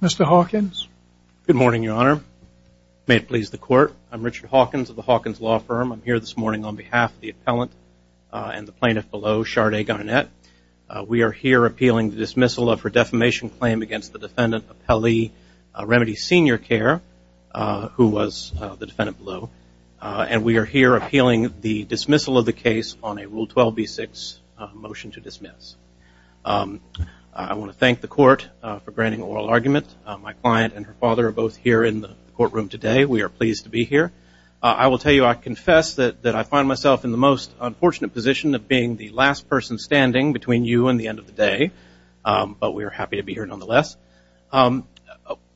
Mr. Hawkins. Good morning, Your Honor. May it please the Court. I'm Richard Hawkins of the Hawkins Law Firm. I'm here this morning on behalf of the appellant and the plaintiff below, Sade Garnett. We are here appealing the dismissal of her defamation claim against the defendant, Appellee Remedi SeniorCare, who was the defendant below. And we are here appealing the dismissal of the case on a Rule 12b-6 motion to dismiss. I want to thank the Court for granting oral argument. My client and her father are both here in the courtroom today. We are pleased to be here. I will tell you I confess that I find myself in the most unfortunate position of being the last person standing between you and the end of the day. But we are happy to be here nonetheless. I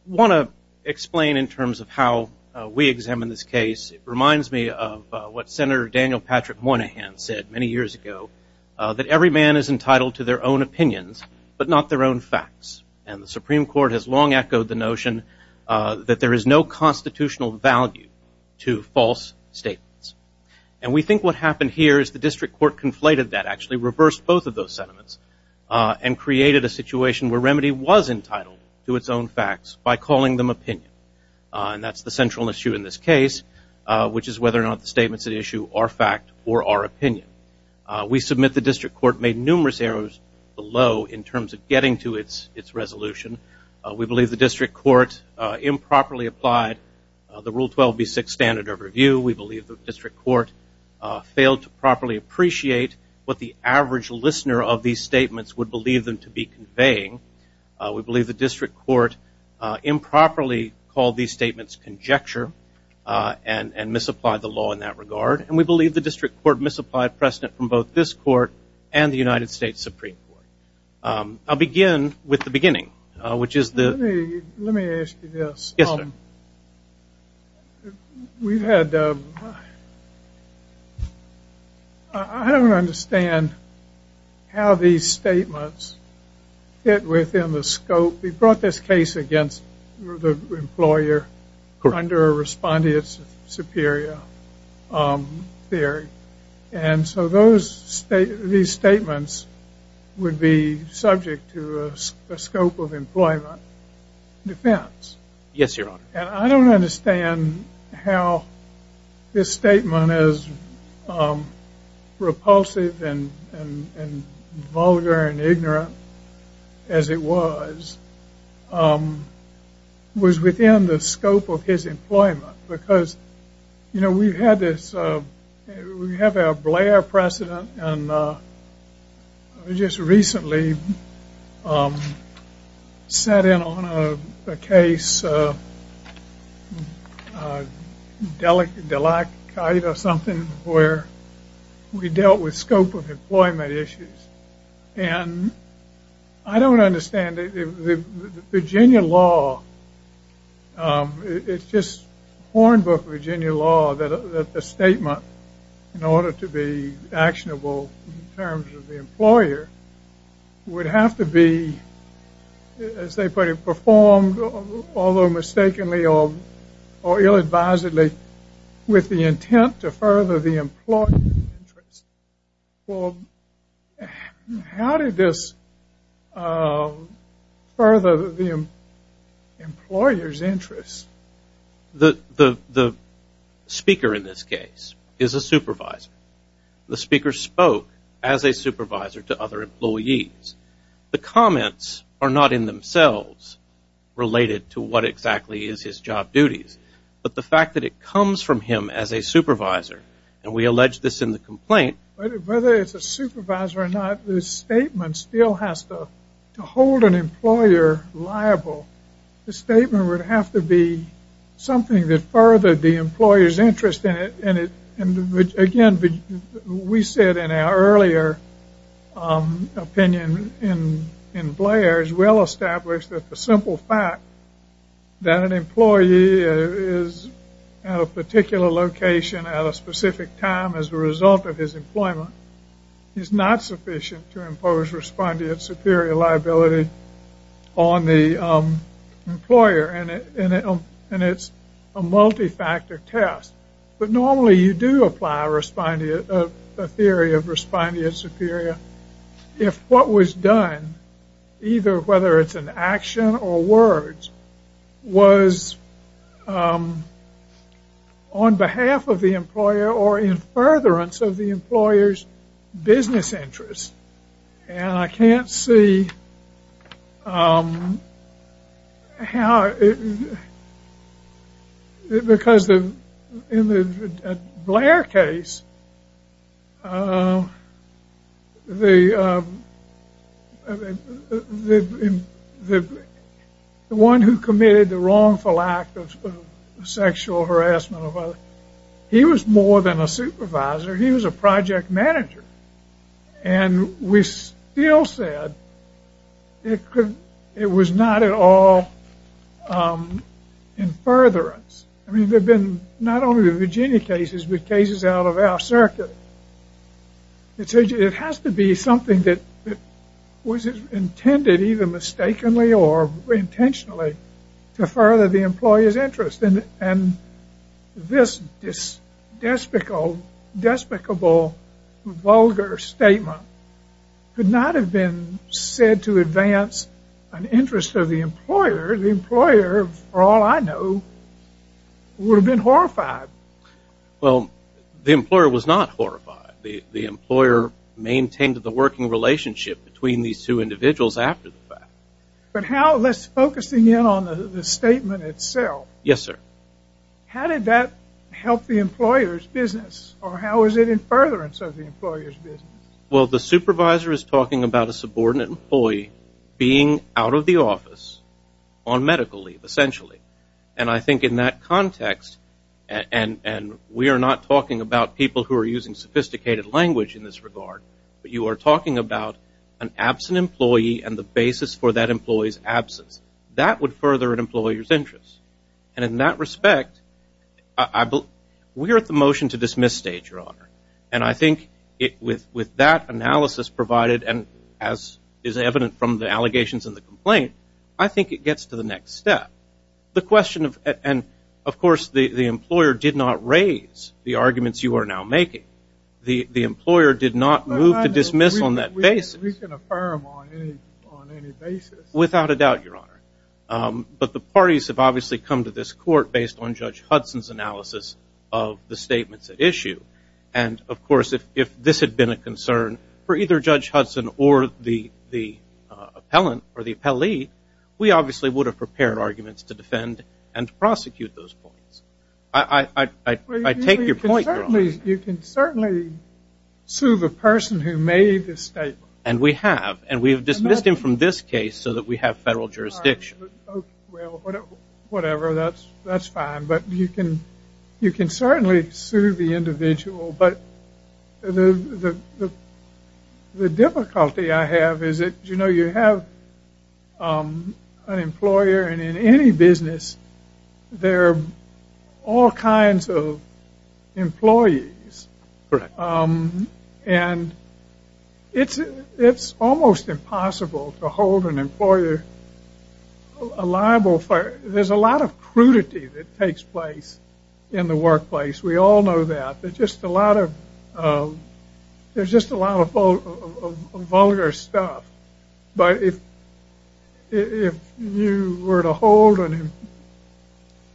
want to explain in terms of how we examine this case. It reminds me of what Senator Daniel Patrick Moynihan said many years ago, that every man is entitled to their own opinions, but not their own facts. And the Supreme Court has long echoed the notion that there is no constitutional value to false statements. And we think what happened here is the district court conflated that, actually reversed both of those sentiments, and created a situation where Remedi was entitled to its own facts by calling them opinion. And that's the central issue in this case, which is whether or not the statements at issue are fact or are opinion. We submit the district court made numerous errors below in terms of getting to its resolution. We believe the district court improperly applied the Rule 12b-6 standard of review. We believe the district court failed to properly appreciate what the average listener of these statements would believe them to be conveying. We believe the district court improperly called these statements conjecture and misapplied the law in that regard. And we believe the district court misapplied precedent from both this court and the United States Supreme Court. I'll begin with the beginning, which is the- We brought this case against the employer under a respondeat superior theory. And so these statements would be subject to a scope of employment defense. Yes, Your Honor. And I don't understand how this statement, as repulsive and vulgar and ignorant as it was, was within the scope of his employment. Because, you know, we've had this, we have our Blair precedent, and just recently sat in on a case, Delacrite or something, where we dealt with scope of employment issues. And I don't understand the Virginia law. It's just hornbook Virginia law that a statement, in order to be actionable in terms of the employer, would have to be, as they put it, performed, although mistakenly or ill-advisedly, with the intent to further the employer's interest. Well, how did this further the employer's interest? The speaker in this case is a supervisor. The speaker spoke as a supervisor to other employees. The comments are not in themselves related to what exactly is his job duties, but the fact that it comes from him as a supervisor. And we allege this in the complaint. Whether it's a supervisor or not, this statement still has to hold an employer liable. The statement would have to be something that furthered the employer's interest in it. And again, we said in our earlier opinion in Blair, it's well established that the simple fact that an employee is at a particular location at a specific time as a result of his employment is not sufficient to impose respondent superior liability on the employer. And it's a multi-factor test. But normally you do apply a theory of respondent superior if what was done, either whether it's an action or words, was on behalf of the employer or in furtherance of the employer's business interest. And I can't see how, because in the Blair case, the one who committed the wrongful act of sexual harassment of others, he was more than a supervisor. He was a project manager. And we still said it was not at all in furtherance. I mean, there have been not only the Virginia cases, but cases out of our circuit. It has to be something that was intended, either mistakenly or intentionally, to further the employer's interest. And this despicable, vulgar statement could not have been said to advance an interest of the employer. The employer, for all I know, would have been horrified. Well, the employer was not horrified. The employer maintained the working relationship between these two individuals after the fact. But how, let's focus in on the statement itself. Yes, sir. How did that help the employer's business? Or how is it in furtherance of the employer's business? Well, the supervisor is talking about a subordinate employee being out of the office on medical leave, essentially. And I think in that context, and we are not talking about people who are using sophisticated language in this regard, but you are talking about an absent employee and the basis for that employee's absence. That would further an employer's interest. And in that respect, we are at the motion-to-dismiss stage, Your Honor. And I think with that analysis provided, and as is evident from the allegations in the complaint, I think it gets to the next step. And, of course, the employer did not raise the arguments you are now making. The employer did not move to dismiss on that basis. We can affirm on any basis. Without a doubt, Your Honor. But the parties have obviously come to this court based on Judge Hudson's analysis of the statements at issue. And, of course, if this had been a concern for either Judge Hudson or the appellant or the appellee, we obviously would have prepared arguments to defend and prosecute those points. I take your point, Your Honor. You can certainly sue the person who made this statement. And we have. And we have dismissed him from this case so that we have federal jurisdiction. Well, whatever. That's fine. But you can certainly sue the individual. But the difficulty I have is that, you know, you have an employer. And in any business, there are all kinds of employees. Correct. And it's almost impossible to hold an employer liable for it. There's a lot of crudity that takes place in the workplace. We all know that. There's just a lot of vulgar stuff. But if you were to hold and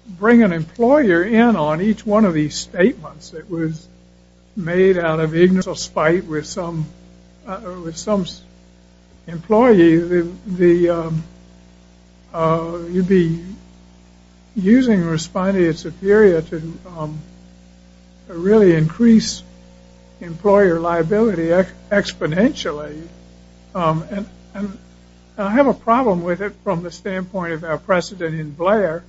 bring an employer in on each one of these statements that was made out of ignorance or spite with some employee, you'd be using respondeat superior to really increase employer liability exponentially. And I have a problem with it from the standpoint of our precedent in Blair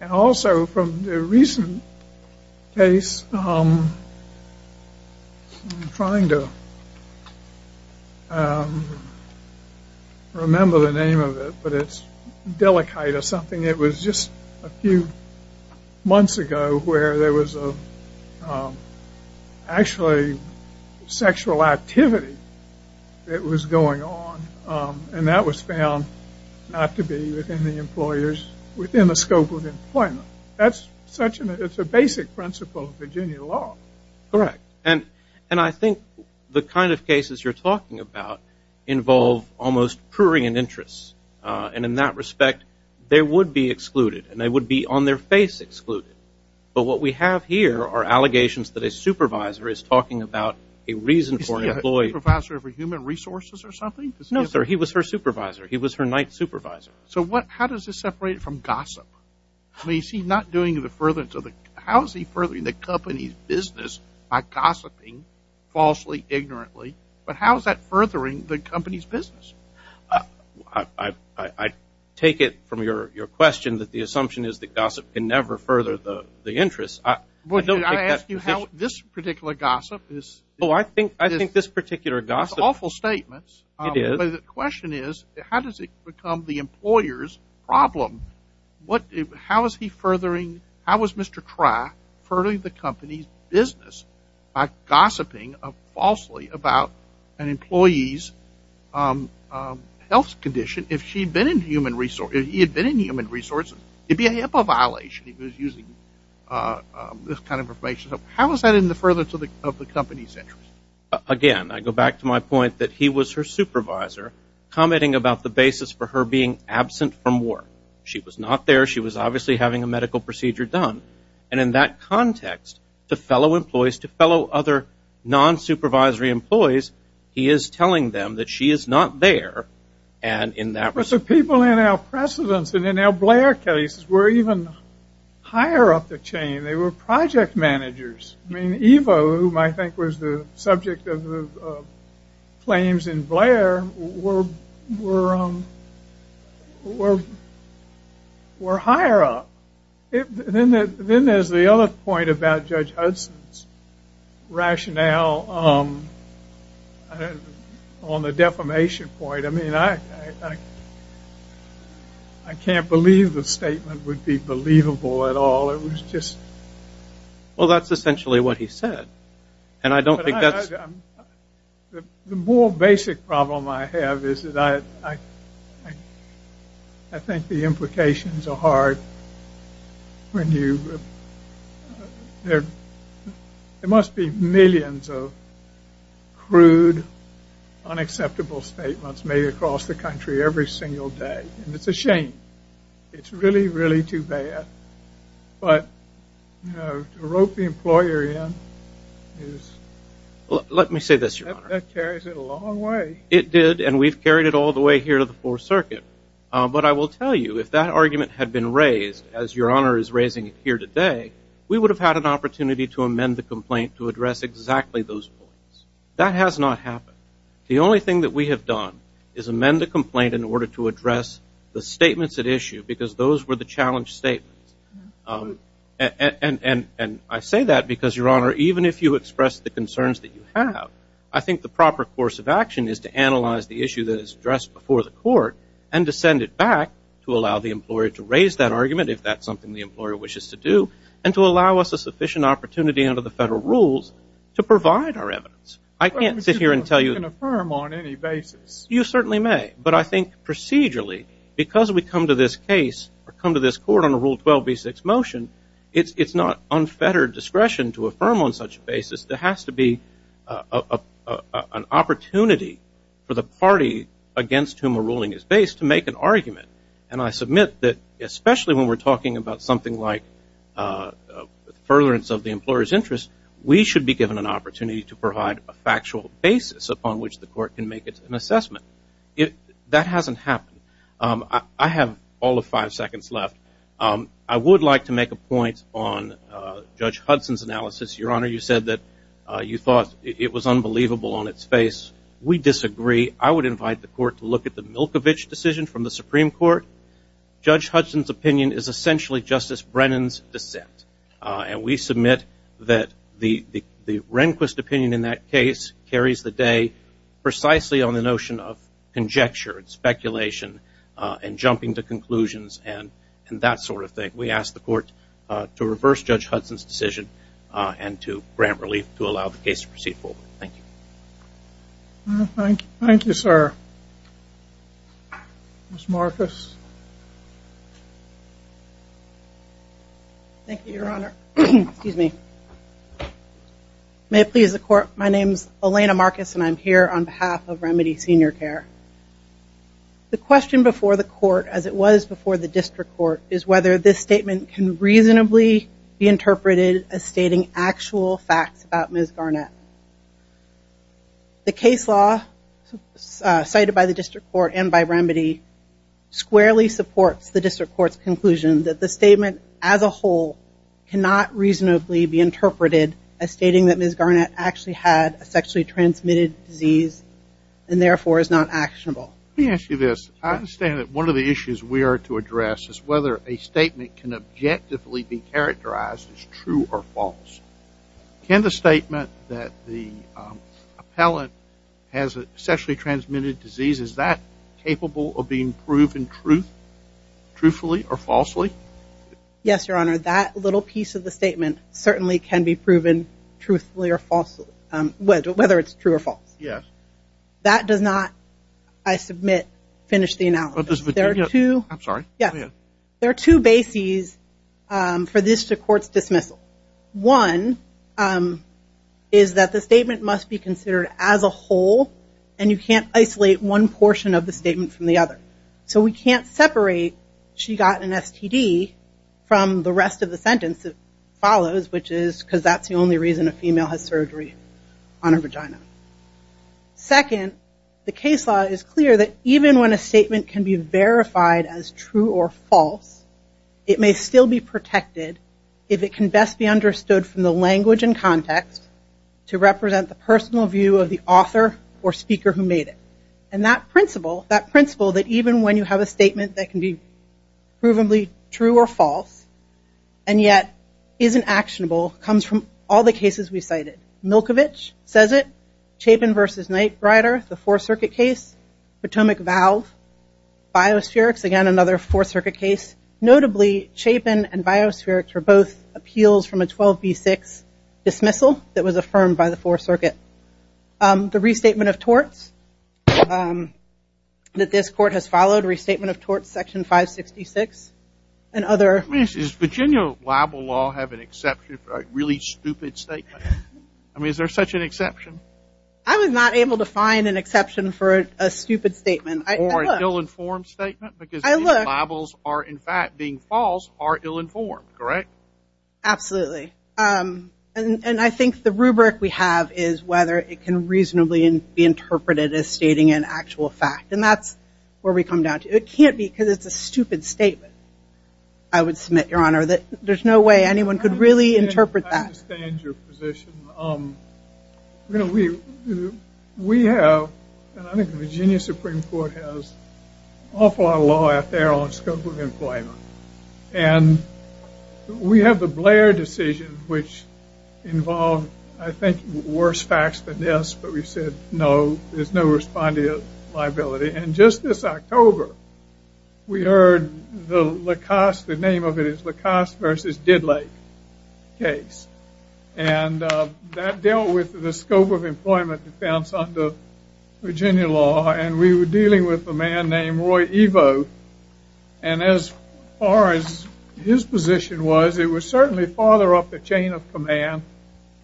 And also from the recent case, I'm trying to remember the name of it, but it's Delakite or something. It was just a few months ago where there was actually sexual activity that was going on. And that was found not to be within the employers, within the scope of employment. That's such a basic principle of Virginia law. Correct. And I think the kind of cases you're talking about involve almost prurient interests. And in that respect, they would be excluded. And they would be on their face excluded. But what we have here are allegations that a supervisor is talking about a reason for an employee. Was the supervisor of human resources or something? No, sir. He was her supervisor. He was her night supervisor. So how does this separate it from gossip? How is he furthering the company's business by gossiping falsely, ignorantly? But how is that furthering the company's business? I take it from your question that the assumption is that gossip can never further the interest. I don't think that's the issue. I ask you how this particular gossip is. Oh, I think this particular gossip. Those are awful statements. It is. But the question is, how does it become the employer's problem? How is he furthering? How is Mr. Try furthering the company's business by gossiping falsely about an employee's health condition? If he had been in human resources, it would be a HIPAA violation if he was using this kind of information. So how is that in the furtherance of the company's interest? Again, I go back to my point that he was her supervisor, commenting about the basis for her being absent from work. She was not there. She was obviously having a medical procedure done. And in that context, to fellow employees, to fellow other non-supervisory employees, he is telling them that she is not there. But the people in our precedents and in our Blair cases were even higher up the chain. They were project managers. I mean, Ivo, who I think was the subject of the claims in Blair, were higher up. Then there's the other point about Judge Hudson's rationale on the defamation point. I mean, I can't believe the statement would be believable at all. Well, that's essentially what he said. And I don't think that's... The more basic problem I have is that I think the implications are hard when you... There must be millions of crude, unacceptable statements made across the country every single day. And it's a shame. It's really, really too bad. But, you know, to rope the employer in is... Let me say this, Your Honor. That carries it a long way. It did, and we've carried it all the way here to the Fourth Circuit. But I will tell you, if that argument had been raised, as Your Honor is raising it here today, we would have had an opportunity to amend the complaint to address exactly those points. That has not happened. The only thing that we have done is amend the complaint in order to address the statements at issue because those were the challenge statements. And I say that because, Your Honor, even if you express the concerns that you have, I think the proper course of action is to analyze the issue that is addressed before the court and to send it back to allow the employer to raise that argument, if that's something the employer wishes to do, and to allow us a sufficient opportunity under the federal rules to provide our evidence. I can't sit here and tell you... But we can affirm on any basis. You certainly may. But I think procedurally, because we come to this case or come to this court on a Rule 12b6 motion, it's not unfettered discretion to affirm on such a basis. There has to be an opportunity for the party against whom a ruling is based to make an argument. And I submit that, especially when we're talking about something like furtherance of the employer's interest, we should be given an opportunity to provide a factual basis upon which the court can make an assessment. That hasn't happened. I have all of five seconds left. I would like to make a point on Judge Hudson's analysis. Your Honor, you said that you thought it was unbelievable on its face. We disagree. I would invite the court to look at the Milkovich decision from the Supreme Court. Judge Hudson's opinion is essentially Justice Brennan's dissent. And we submit that the Rehnquist opinion in that case carries the day precisely on the notion of conjecture and speculation and jumping to conclusions and that sort of thing. We ask the court to reverse Judge Hudson's decision and to grant relief to allow the case to proceed forward. Thank you. Thank you, sir. Ms. Marcus. Thank you, Your Honor. May it please the court, my name is Elena Marcus and I'm here on behalf of Remedy Senior Care. The question before the court, as it was before the district court, is whether this statement can reasonably be interpreted as stating actual facts about Ms. Garnett. The case law cited by the district court and by Remedy squarely supports the district court's conclusion that the statement as a whole cannot reasonably be interpreted as stating that Ms. Garnett actually had a sexually transmitted disease and therefore is not actionable. Let me ask you this. I understand that one of the issues we are to address is whether a statement can objectively be characterized as true or false. Can the statement that the appellant has a sexually transmitted disease, is that capable of being proven truthfully or falsely? Yes, Your Honor. That little piece of the statement certainly can be proven truthfully or falsely, whether it's true or false. Yes. That does not, I submit, finish the analysis. I'm sorry. Go ahead. There are two bases for this district court's dismissal. One is that the statement must be considered as a whole and you can't isolate one portion of the statement from the other. So we can't separate she got an STD from the rest of the sentence that follows, which is because that's the only reason a female has surgery on her vagina. Second, the case law is clear that even when a statement can be verified as true or false, it may still be protected if it can best be understood from the language and context to represent the personal view of the author or speaker who made it. And that principle, that principle that even when you have a statement that can be provably true or false and yet isn't actionable comes from all the cases we cited. Milkovich says it. Chapin v. Knight Rider, the Fourth Circuit case. Potomac Valve. Biospherics, again, another Fourth Circuit case. Notably, Chapin and Biospherics were both appeals from a 12B6 dismissal that was affirmed by the Fourth Circuit. The restatement of torts that this court has followed, restatement of torts section 566 and other. I mean, does Virginia libel law have an exception for a really stupid statement? I mean, is there such an exception? I was not able to find an exception for a stupid statement. Or an ill-informed statement because these libels are, in fact, being false, are ill-informed, correct? Absolutely. And I think the rubric we have is whether it can reasonably be interpreted as stating an actual fact. And that's where we come down to. It can't be because it's a stupid statement, I would submit, Your Honor. There's no way anyone could really interpret that. I understand your position. You know, we have, and I think the Virginia Supreme Court has, an awful lot of law out there on the scope of employment. And we have the Blair decision, which involved, I think, worse facts than this. But we said, no, there's no respondee liability. And just this October, we heard the LaCoste, the name of it is LaCoste versus Diddley case. And that dealt with the scope of employment defense under Virginia law. And we were dealing with a man named Roy Evo. And as far as his position was, it was certainly farther up the chain of command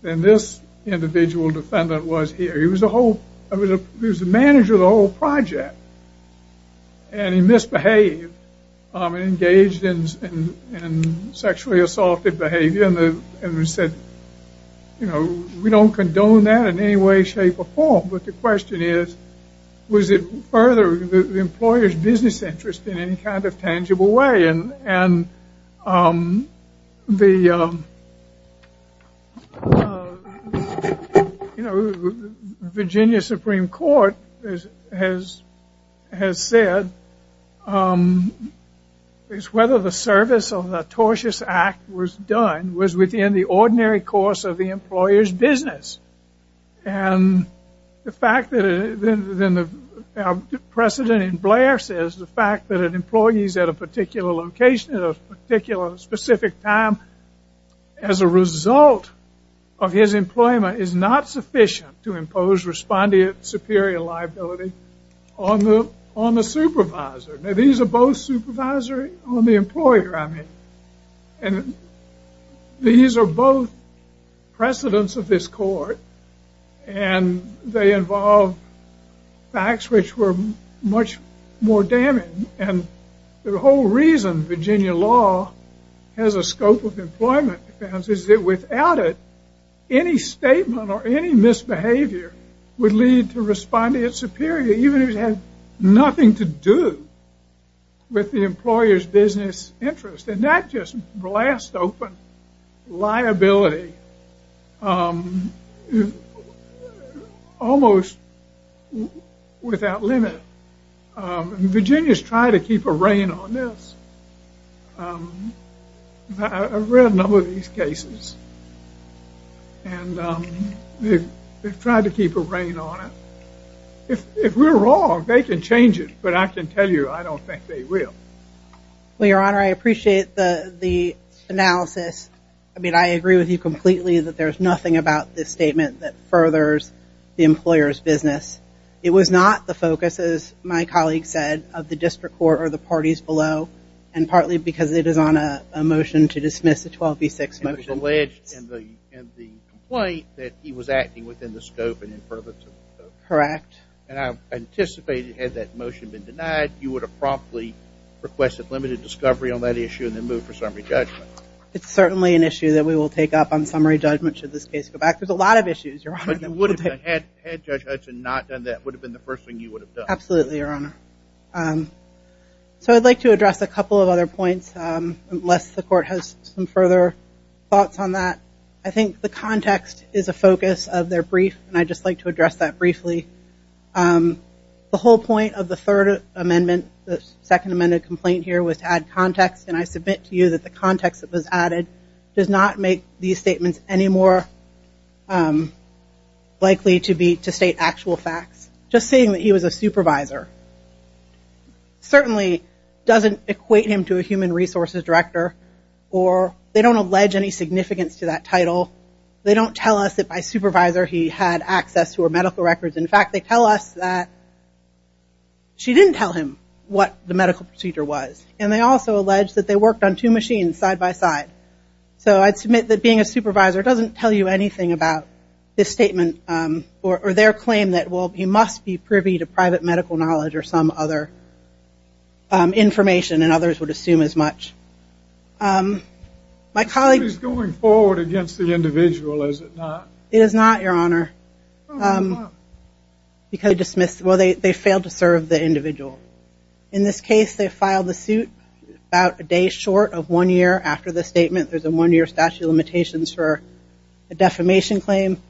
than this individual defendant was here. He was the manager of the whole project. And he misbehaved and engaged in sexually assaulted behavior. And we said, you know, we don't condone that in any way, shape, or form. But the question is, was it further the employer's business interest in any kind of tangible way? And the, you know, Virginia Supreme Court has said it's whether the service of the tortious act was done, was within the ordinary course of the employer's business. And the precedent in Blair says the fact that an employee is at a particular location, at a particular specific time, as a result of his employment, is not sufficient to impose respondee superior liability on the supervisor. Now, these are both supervisory on the employer, I mean. And these are both precedents of this court. And they involve facts which were much more damning. And the whole reason Virginia law has a scope of employment defense is that without it, any statement or any misbehavior would lead to respondee superior, even if it had nothing to do with the employer's business interest. And that just blasts open liability almost without limit. And Virginia's tried to keep a rein on this. I've read a number of these cases. And they've tried to keep a rein on it. If we're wrong, they can change it. But I can tell you, I don't think they will. Well, Your Honor, I appreciate the analysis. I mean, I agree with you completely that there's nothing about this statement that furthers the employer's business. It was not the focus, as my colleague said, of the district court or the parties below, and partly because it is on a motion to dismiss the 12B6 motion. It was alleged in the complaint that he was acting within the scope and imperatives of the scope. Correct. And I anticipated, had that motion been denied, you would have promptly requested limited discovery on that issue and then moved for summary judgment. It's certainly an issue that we will take up on summary judgment should this case go back. There's a lot of issues, Your Honor, that we'll take up. But had Judge Hudson not done that, it would have been the first thing you would have done. Absolutely, Your Honor. So I'd like to address a couple of other points, unless the court has some further thoughts on that. I think the context is a focus of their brief, and I'd just like to address that briefly. The whole point of the third amendment, the second amended complaint here, was to add context, and I submit to you that the context that was added does not make these statements any more likely to state actual facts. Just saying that he was a supervisor certainly doesn't equate him to a human resources director, or they don't allege any significance to that title. They don't tell us that by supervisor he had access to her medical records. In fact, they tell us that she didn't tell him what the medical procedure was, and they also allege that they worked on two machines side by side. So I'd submit that being a supervisor doesn't tell you anything about this statement or their claim that he must be privy to private medical knowledge The suit is going forward against the individual, is it not? It is not, Your Honor. Why not? Because they failed to serve the individual. In this case, they filed the suit about a day short of one year after the statement. There's a one-year statute of limitations for a defamation claim.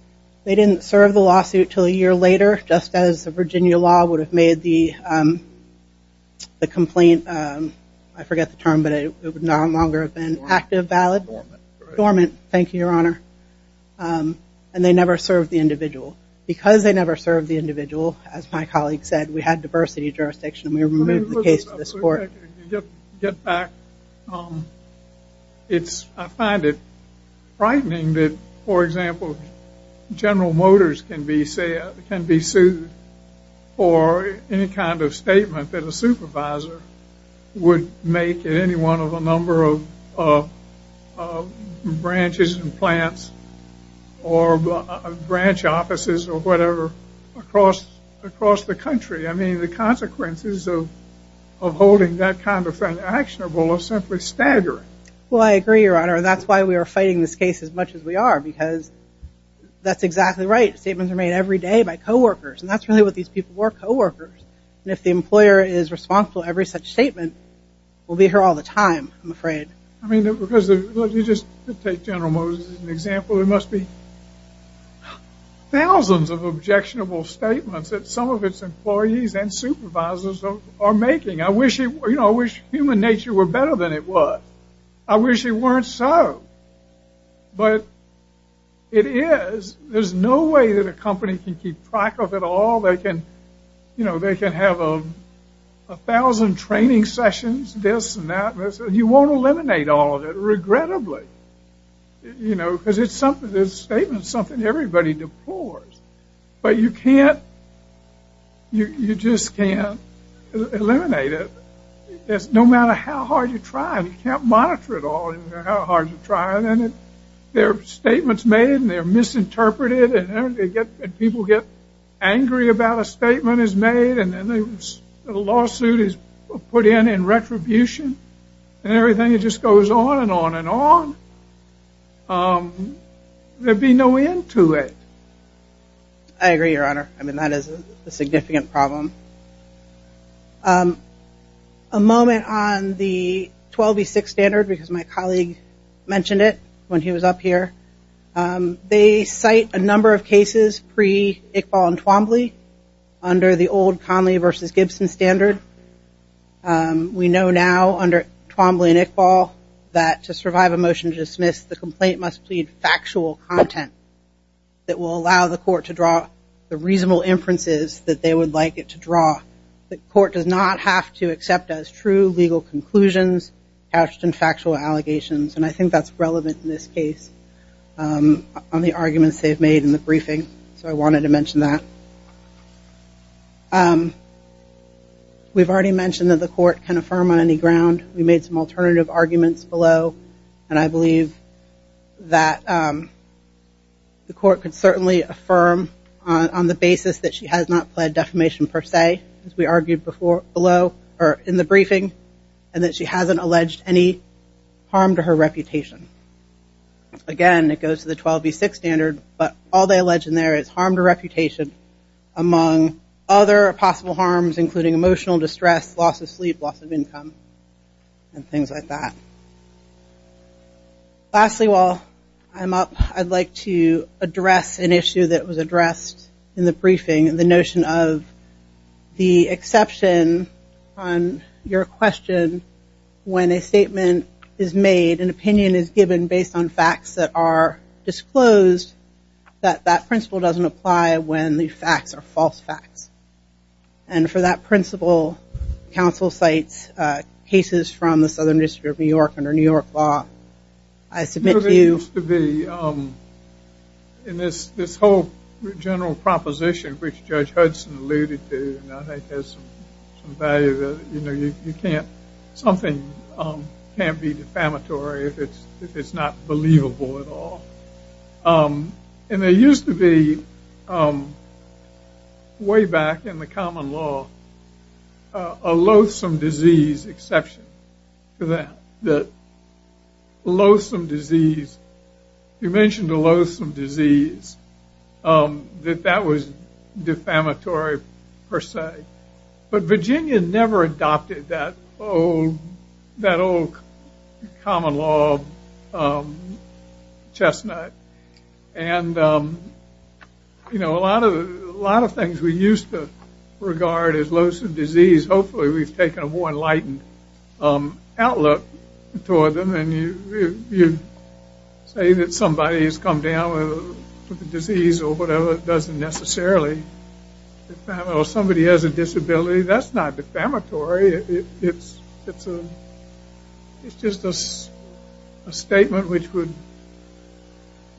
They didn't serve the lawsuit until a year later, just as the Virginia law would have made the complaint. I forget the term, but it would no longer have been active, valid, dormant. Thank you, Your Honor. And they never served the individual. Because they never served the individual, as my colleague said, we had diversity of jurisdiction and we removed the case to this court. To get back, I find it frightening that, for example, General Motors can be sued for any kind of statement that a supervisor would make at any one of a number of branches and plants or branch offices or whatever across the country. I mean, the consequences of holding that kind of thing actionable are simply staggering. Your Honor, that's why we are fighting this case as much as we are, because that's exactly right. Statements are made every day by coworkers, and that's really what these people were, coworkers. And if the employer is responsible for every such statement, we'll be here all the time, I'm afraid. I mean, because you just take General Motors as an example. There must be thousands of objectionable statements that some of its employees and supervisors are making. I wish human nature were better than it was. I wish it weren't so. But it is. There's no way that a company can keep track of it all. They can have a thousand training sessions, this and that. You won't eliminate all of it, regrettably. Because it's something, this statement is something everybody deplores. But you can't, you just can't eliminate it. No matter how hard you try, you can't monitor it all, no matter how hard you try. And there are statements made, and they're misinterpreted, and people get angry about a statement is made, and a lawsuit is put in in retribution, and everything just goes on and on and on. There'd be no end to it. I agree, Your Honor. I mean, that is a significant problem. A moment on the 12B6 standard, because my colleague mentioned it when he was up here. They cite a number of cases pre-Iqbal and Twombly under the old Conley versus Gibson standard. We know now under Twombly and Iqbal that to survive a motion to dismiss, the complaint must plead factual content that will allow the court to draw the reasonable inferences that they would like it to draw. The court does not have to accept as true legal conclusions, couched in factual allegations. And I think that's relevant in this case on the arguments they've made in the briefing. So I wanted to mention that. We've already mentioned that the court can affirm on any ground. We made some alternative arguments below. And I believe that the court can certainly affirm on the basis that she has not pled defamation per se, as we argued in the briefing, and that she hasn't alleged any harm to her reputation. Again, it goes to the 12B6 standard, but all they allege in there is harm to reputation, among other possible harms, including emotional distress, loss of sleep, loss of income, and things like that. Lastly, while I'm up, I'd like to address an issue that was addressed in the briefing, the notion of the exception on your question when a statement is made, an opinion is given based on facts that are disclosed, that that principle doesn't apply when the facts are false facts. And for that principle, counsel cites cases from the Southern District of New York under New York law. I submit to you- It used to be in this whole general proposition, which Judge Hudson alluded to, that something can't be defamatory if it's not believable at all. And there used to be, way back in the common law, a loathsome disease exception to that. Loathsome disease. You mentioned the loathsome disease, that that was defamatory per se. But Virginia never adopted that old common law chestnut. And, you know, a lot of things we used to regard as loathsome disease, hopefully we've taken a more enlightened outlook toward them. And you say that somebody has come down with a disease or whatever, it doesn't necessarily defamatory. Or somebody has a disability, that's not defamatory. It's just a statement which would-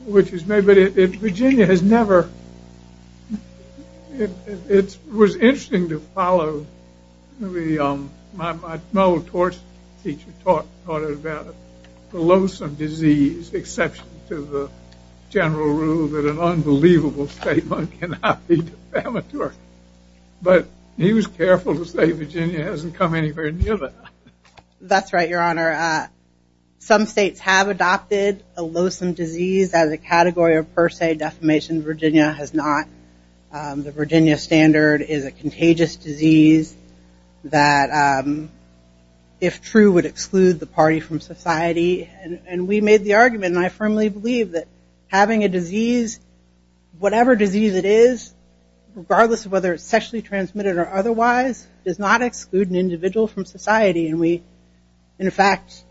But Virginia has never- It was interesting to follow- My old torch teacher taught about the loathsome disease exception to the general rule that an unbelievable statement cannot be defamatory. But he was careful to say Virginia hasn't come anywhere near that. That's right, Your Honor. Some states have adopted a loathsome disease as a category of per se defamation. Virginia has not. The Virginia standard is a contagious disease that, if true, would exclude the party from society. And we made the argument, and I firmly believe, that having a disease, whatever disease it is, regardless of whether it's sexually transmitted or otherwise, does not exclude an individual from society. And we, in fact,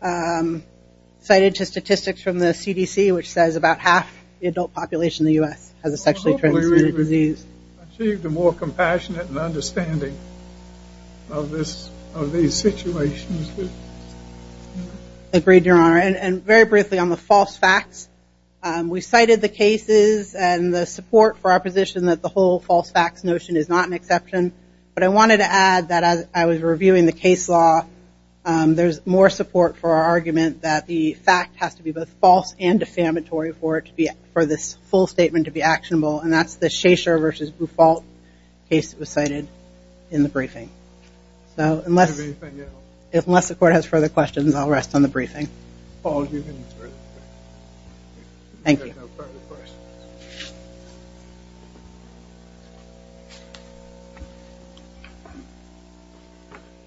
cited statistics from the CDC, which says about half the adult population in the U.S. has a sexually transmitted disease. Well, hopefully we've achieved a more compassionate understanding of these situations. Agreed, Your Honor. And very briefly on the false facts, we cited the cases and the support for our position that the whole false facts notion is not an exception. But I wanted to add that as I was reviewing the case law, there's more support for our argument that the fact has to be both false and defamatory for this full statement to be actionable. And that's the Shachar v. Bufalt case that was cited in the briefing. So unless the court has further questions, I'll rest on the briefing.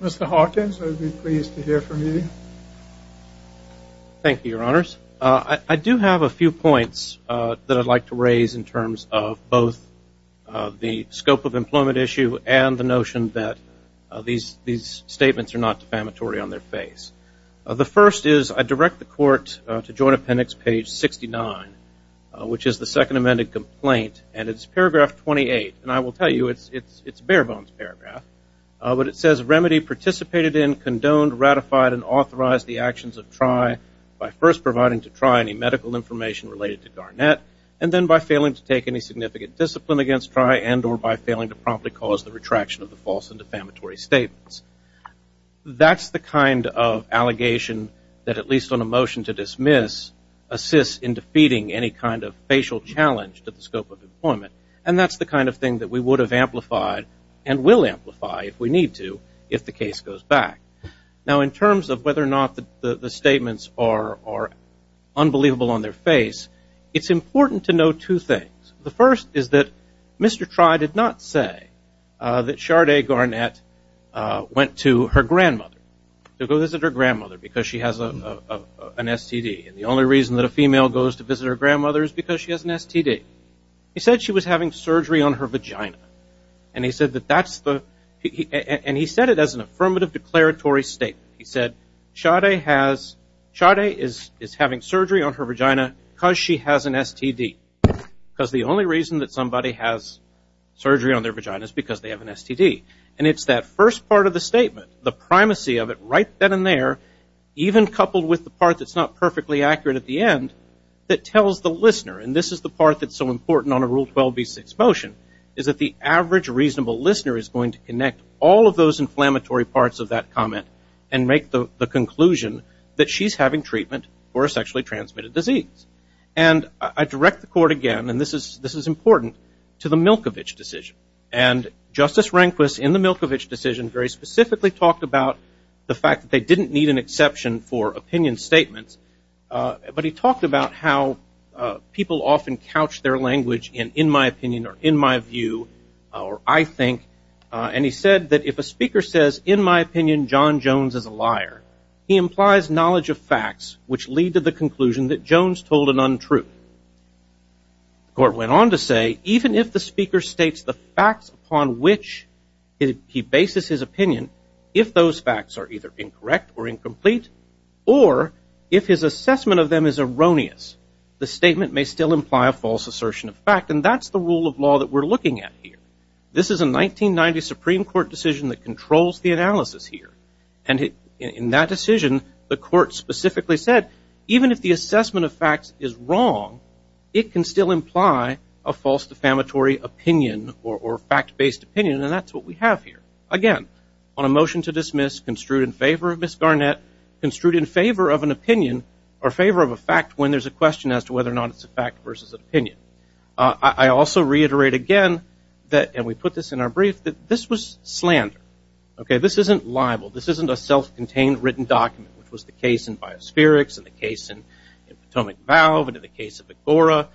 Mr. Hawkins, I would be pleased to hear from you. Thank you, Your Honors. I do have a few points that I'd like to raise in terms of both the scope of employment issue and the notion that these statements are not defamatory on their face. First, I direct the court to joint appendix page 69, which is the second amended complaint. And it's paragraph 28. And I will tell you it's bare bones paragraph. But it says remedy participated in, condoned, ratified, and authorized the actions of Try by first providing to Try any medical information related to Garnett and then by failing to take any significant discipline against Try and or by failing to promptly cause the retraction of the false and defamatory statements. That's the kind of allegation that, at least on a motion to dismiss, assists in defeating any kind of facial challenge to the scope of employment. And that's the kind of thing that we would have amplified and will amplify if we need to if the case goes back. Now, in terms of whether or not the statements are unbelievable on their face, it's important to know two things. The first is that Mr. Try did not say that Sade Garnett went to her grandmother, to go visit her grandmother because she has an STD. And the only reason that a female goes to visit her grandmother is because she has an STD. He said she was having surgery on her vagina. And he said that that's the, and he said it as an affirmative declaratory statement. He said Sade has, Sade is having surgery on her vagina because she has an STD, because the only reason that somebody has surgery on their vagina is because they have an STD. And it's that first part of the statement, the primacy of it right then and there, even coupled with the part that's not perfectly accurate at the end, that tells the listener, and this is the part that's so important on a Rule 12b6 motion, is that the average reasonable listener is going to connect all of those inflammatory parts of that comment and make the conclusion that she's having treatment for a sexually transmitted disease. And I direct the court again, and this is important, to the Milkovich decision. And Justice Rehnquist, in the Milkovich decision, very specifically talked about the fact that they didn't need an exception for opinion statements. But he talked about how people often couch their language in, in my opinion or in my view, or I think. And he said that if a speaker says, in my opinion, John Jones is a liar, he implies knowledge of facts which lead to the conclusion that Jones told an untruth. The court went on to say, even if the speaker states the facts upon which he bases his opinion, if those facts are either incorrect or incomplete, or if his assessment of them is erroneous, the statement may still imply a false assertion of fact. And that's the rule of law that we're looking at here. This is a 1990 Supreme Court decision that controls the analysis here. And in that decision, the court specifically said, even if the assessment of facts is wrong, it can still imply a false defamatory opinion or fact-based opinion. And that's what we have here. Again, on a motion to dismiss, construed in favor of Ms. Garnett, construed in favor of an opinion or favor of a fact when there's a question as to whether or not it's a fact versus an opinion. I also reiterate again that, and we put this in our brief, that this was slander. Okay, this isn't libel. This isn't a self-contained written document, which was the case in Biospherics and the case in Potomac Valve and in the case of Agora.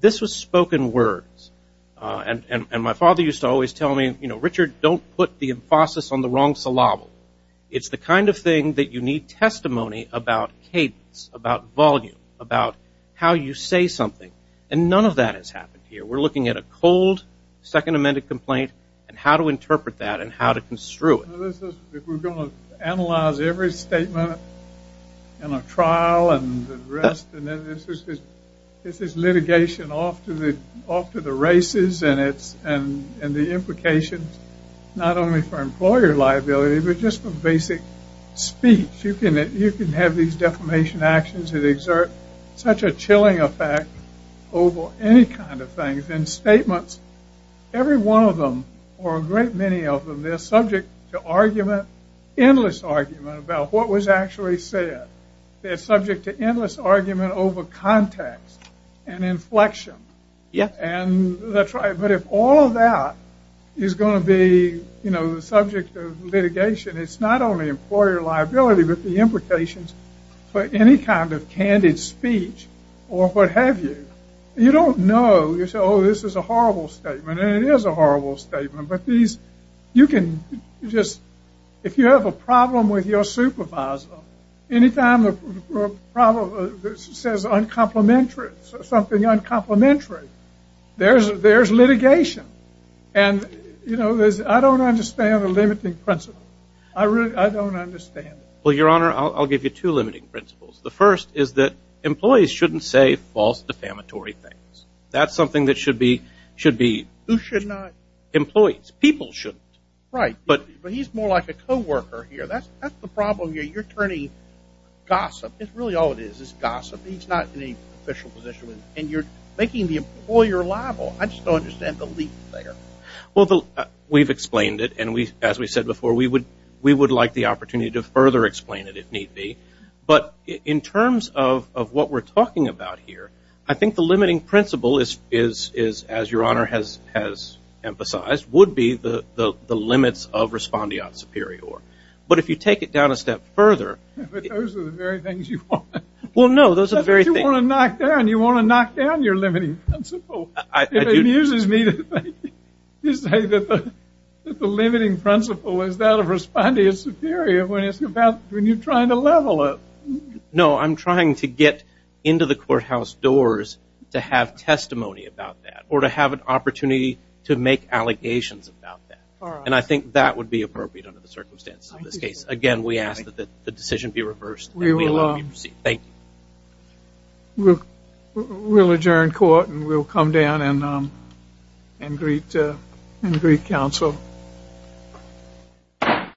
This was spoken words. And my father used to always tell me, you know, Richard, don't put the emphasis on the wrong syllable. It's the kind of thing that you need testimony about cadence, about volume, about how you say something. And none of that has happened here. We're looking at a cold second amended complaint and how to interpret that and how to construe it. If we're going to analyze every statement in a trial and arrest, and then this is litigation off to the races and the implications not only for employer liability, but just for basic speech. You can have these defamation actions that exert such a chilling effect over any kind of thing. In statements, every one of them or a great many of them, they're subject to argument, endless argument about what was actually said. They're subject to endless argument over context and inflection. And that's right. But if all of that is going to be, you know, the subject of litigation, it's not only employer liability, but the implications for any kind of candid speech or what have you. You don't know. You say, oh, this is a horrible statement. And it is a horrible statement. But these, you can just, if you have a problem with your supervisor, any time the problem says uncomplimentary, something uncomplimentary, there's litigation. And, you know, I don't understand the limiting principle. I don't understand it. Well, Your Honor, I'll give you two limiting principles. The first is that employees shouldn't say false defamatory things. That's something that should be employees. People shouldn't. Right. But he's more like a coworker here. That's the problem here. You're turning gossip. That's really all it is, is gossip. He's not in any official position. And you're making the employer liable. I just don't understand the leap there. Well, we've explained it, and as we said before, we would like the opportunity to further explain it if need be. But in terms of what we're talking about here, I think the limiting principle is, as Your Honor has emphasized, would be the limits of respondeat superior. But if you take it down a step further. But those are the very things you want. Well, no, those are the very things. You want to knock down your limiting principle. It amuses me to think you say that the limiting principle is that of respondeat superior when you're trying to level it. No, I'm trying to get into the courthouse doors to have testimony about that or to have an opportunity to make allegations about that. And I think that would be appropriate under the circumstances of this case. Again, we ask that the decision be reversed. Thank you. We'll adjourn court, and we'll come down and greet counsel.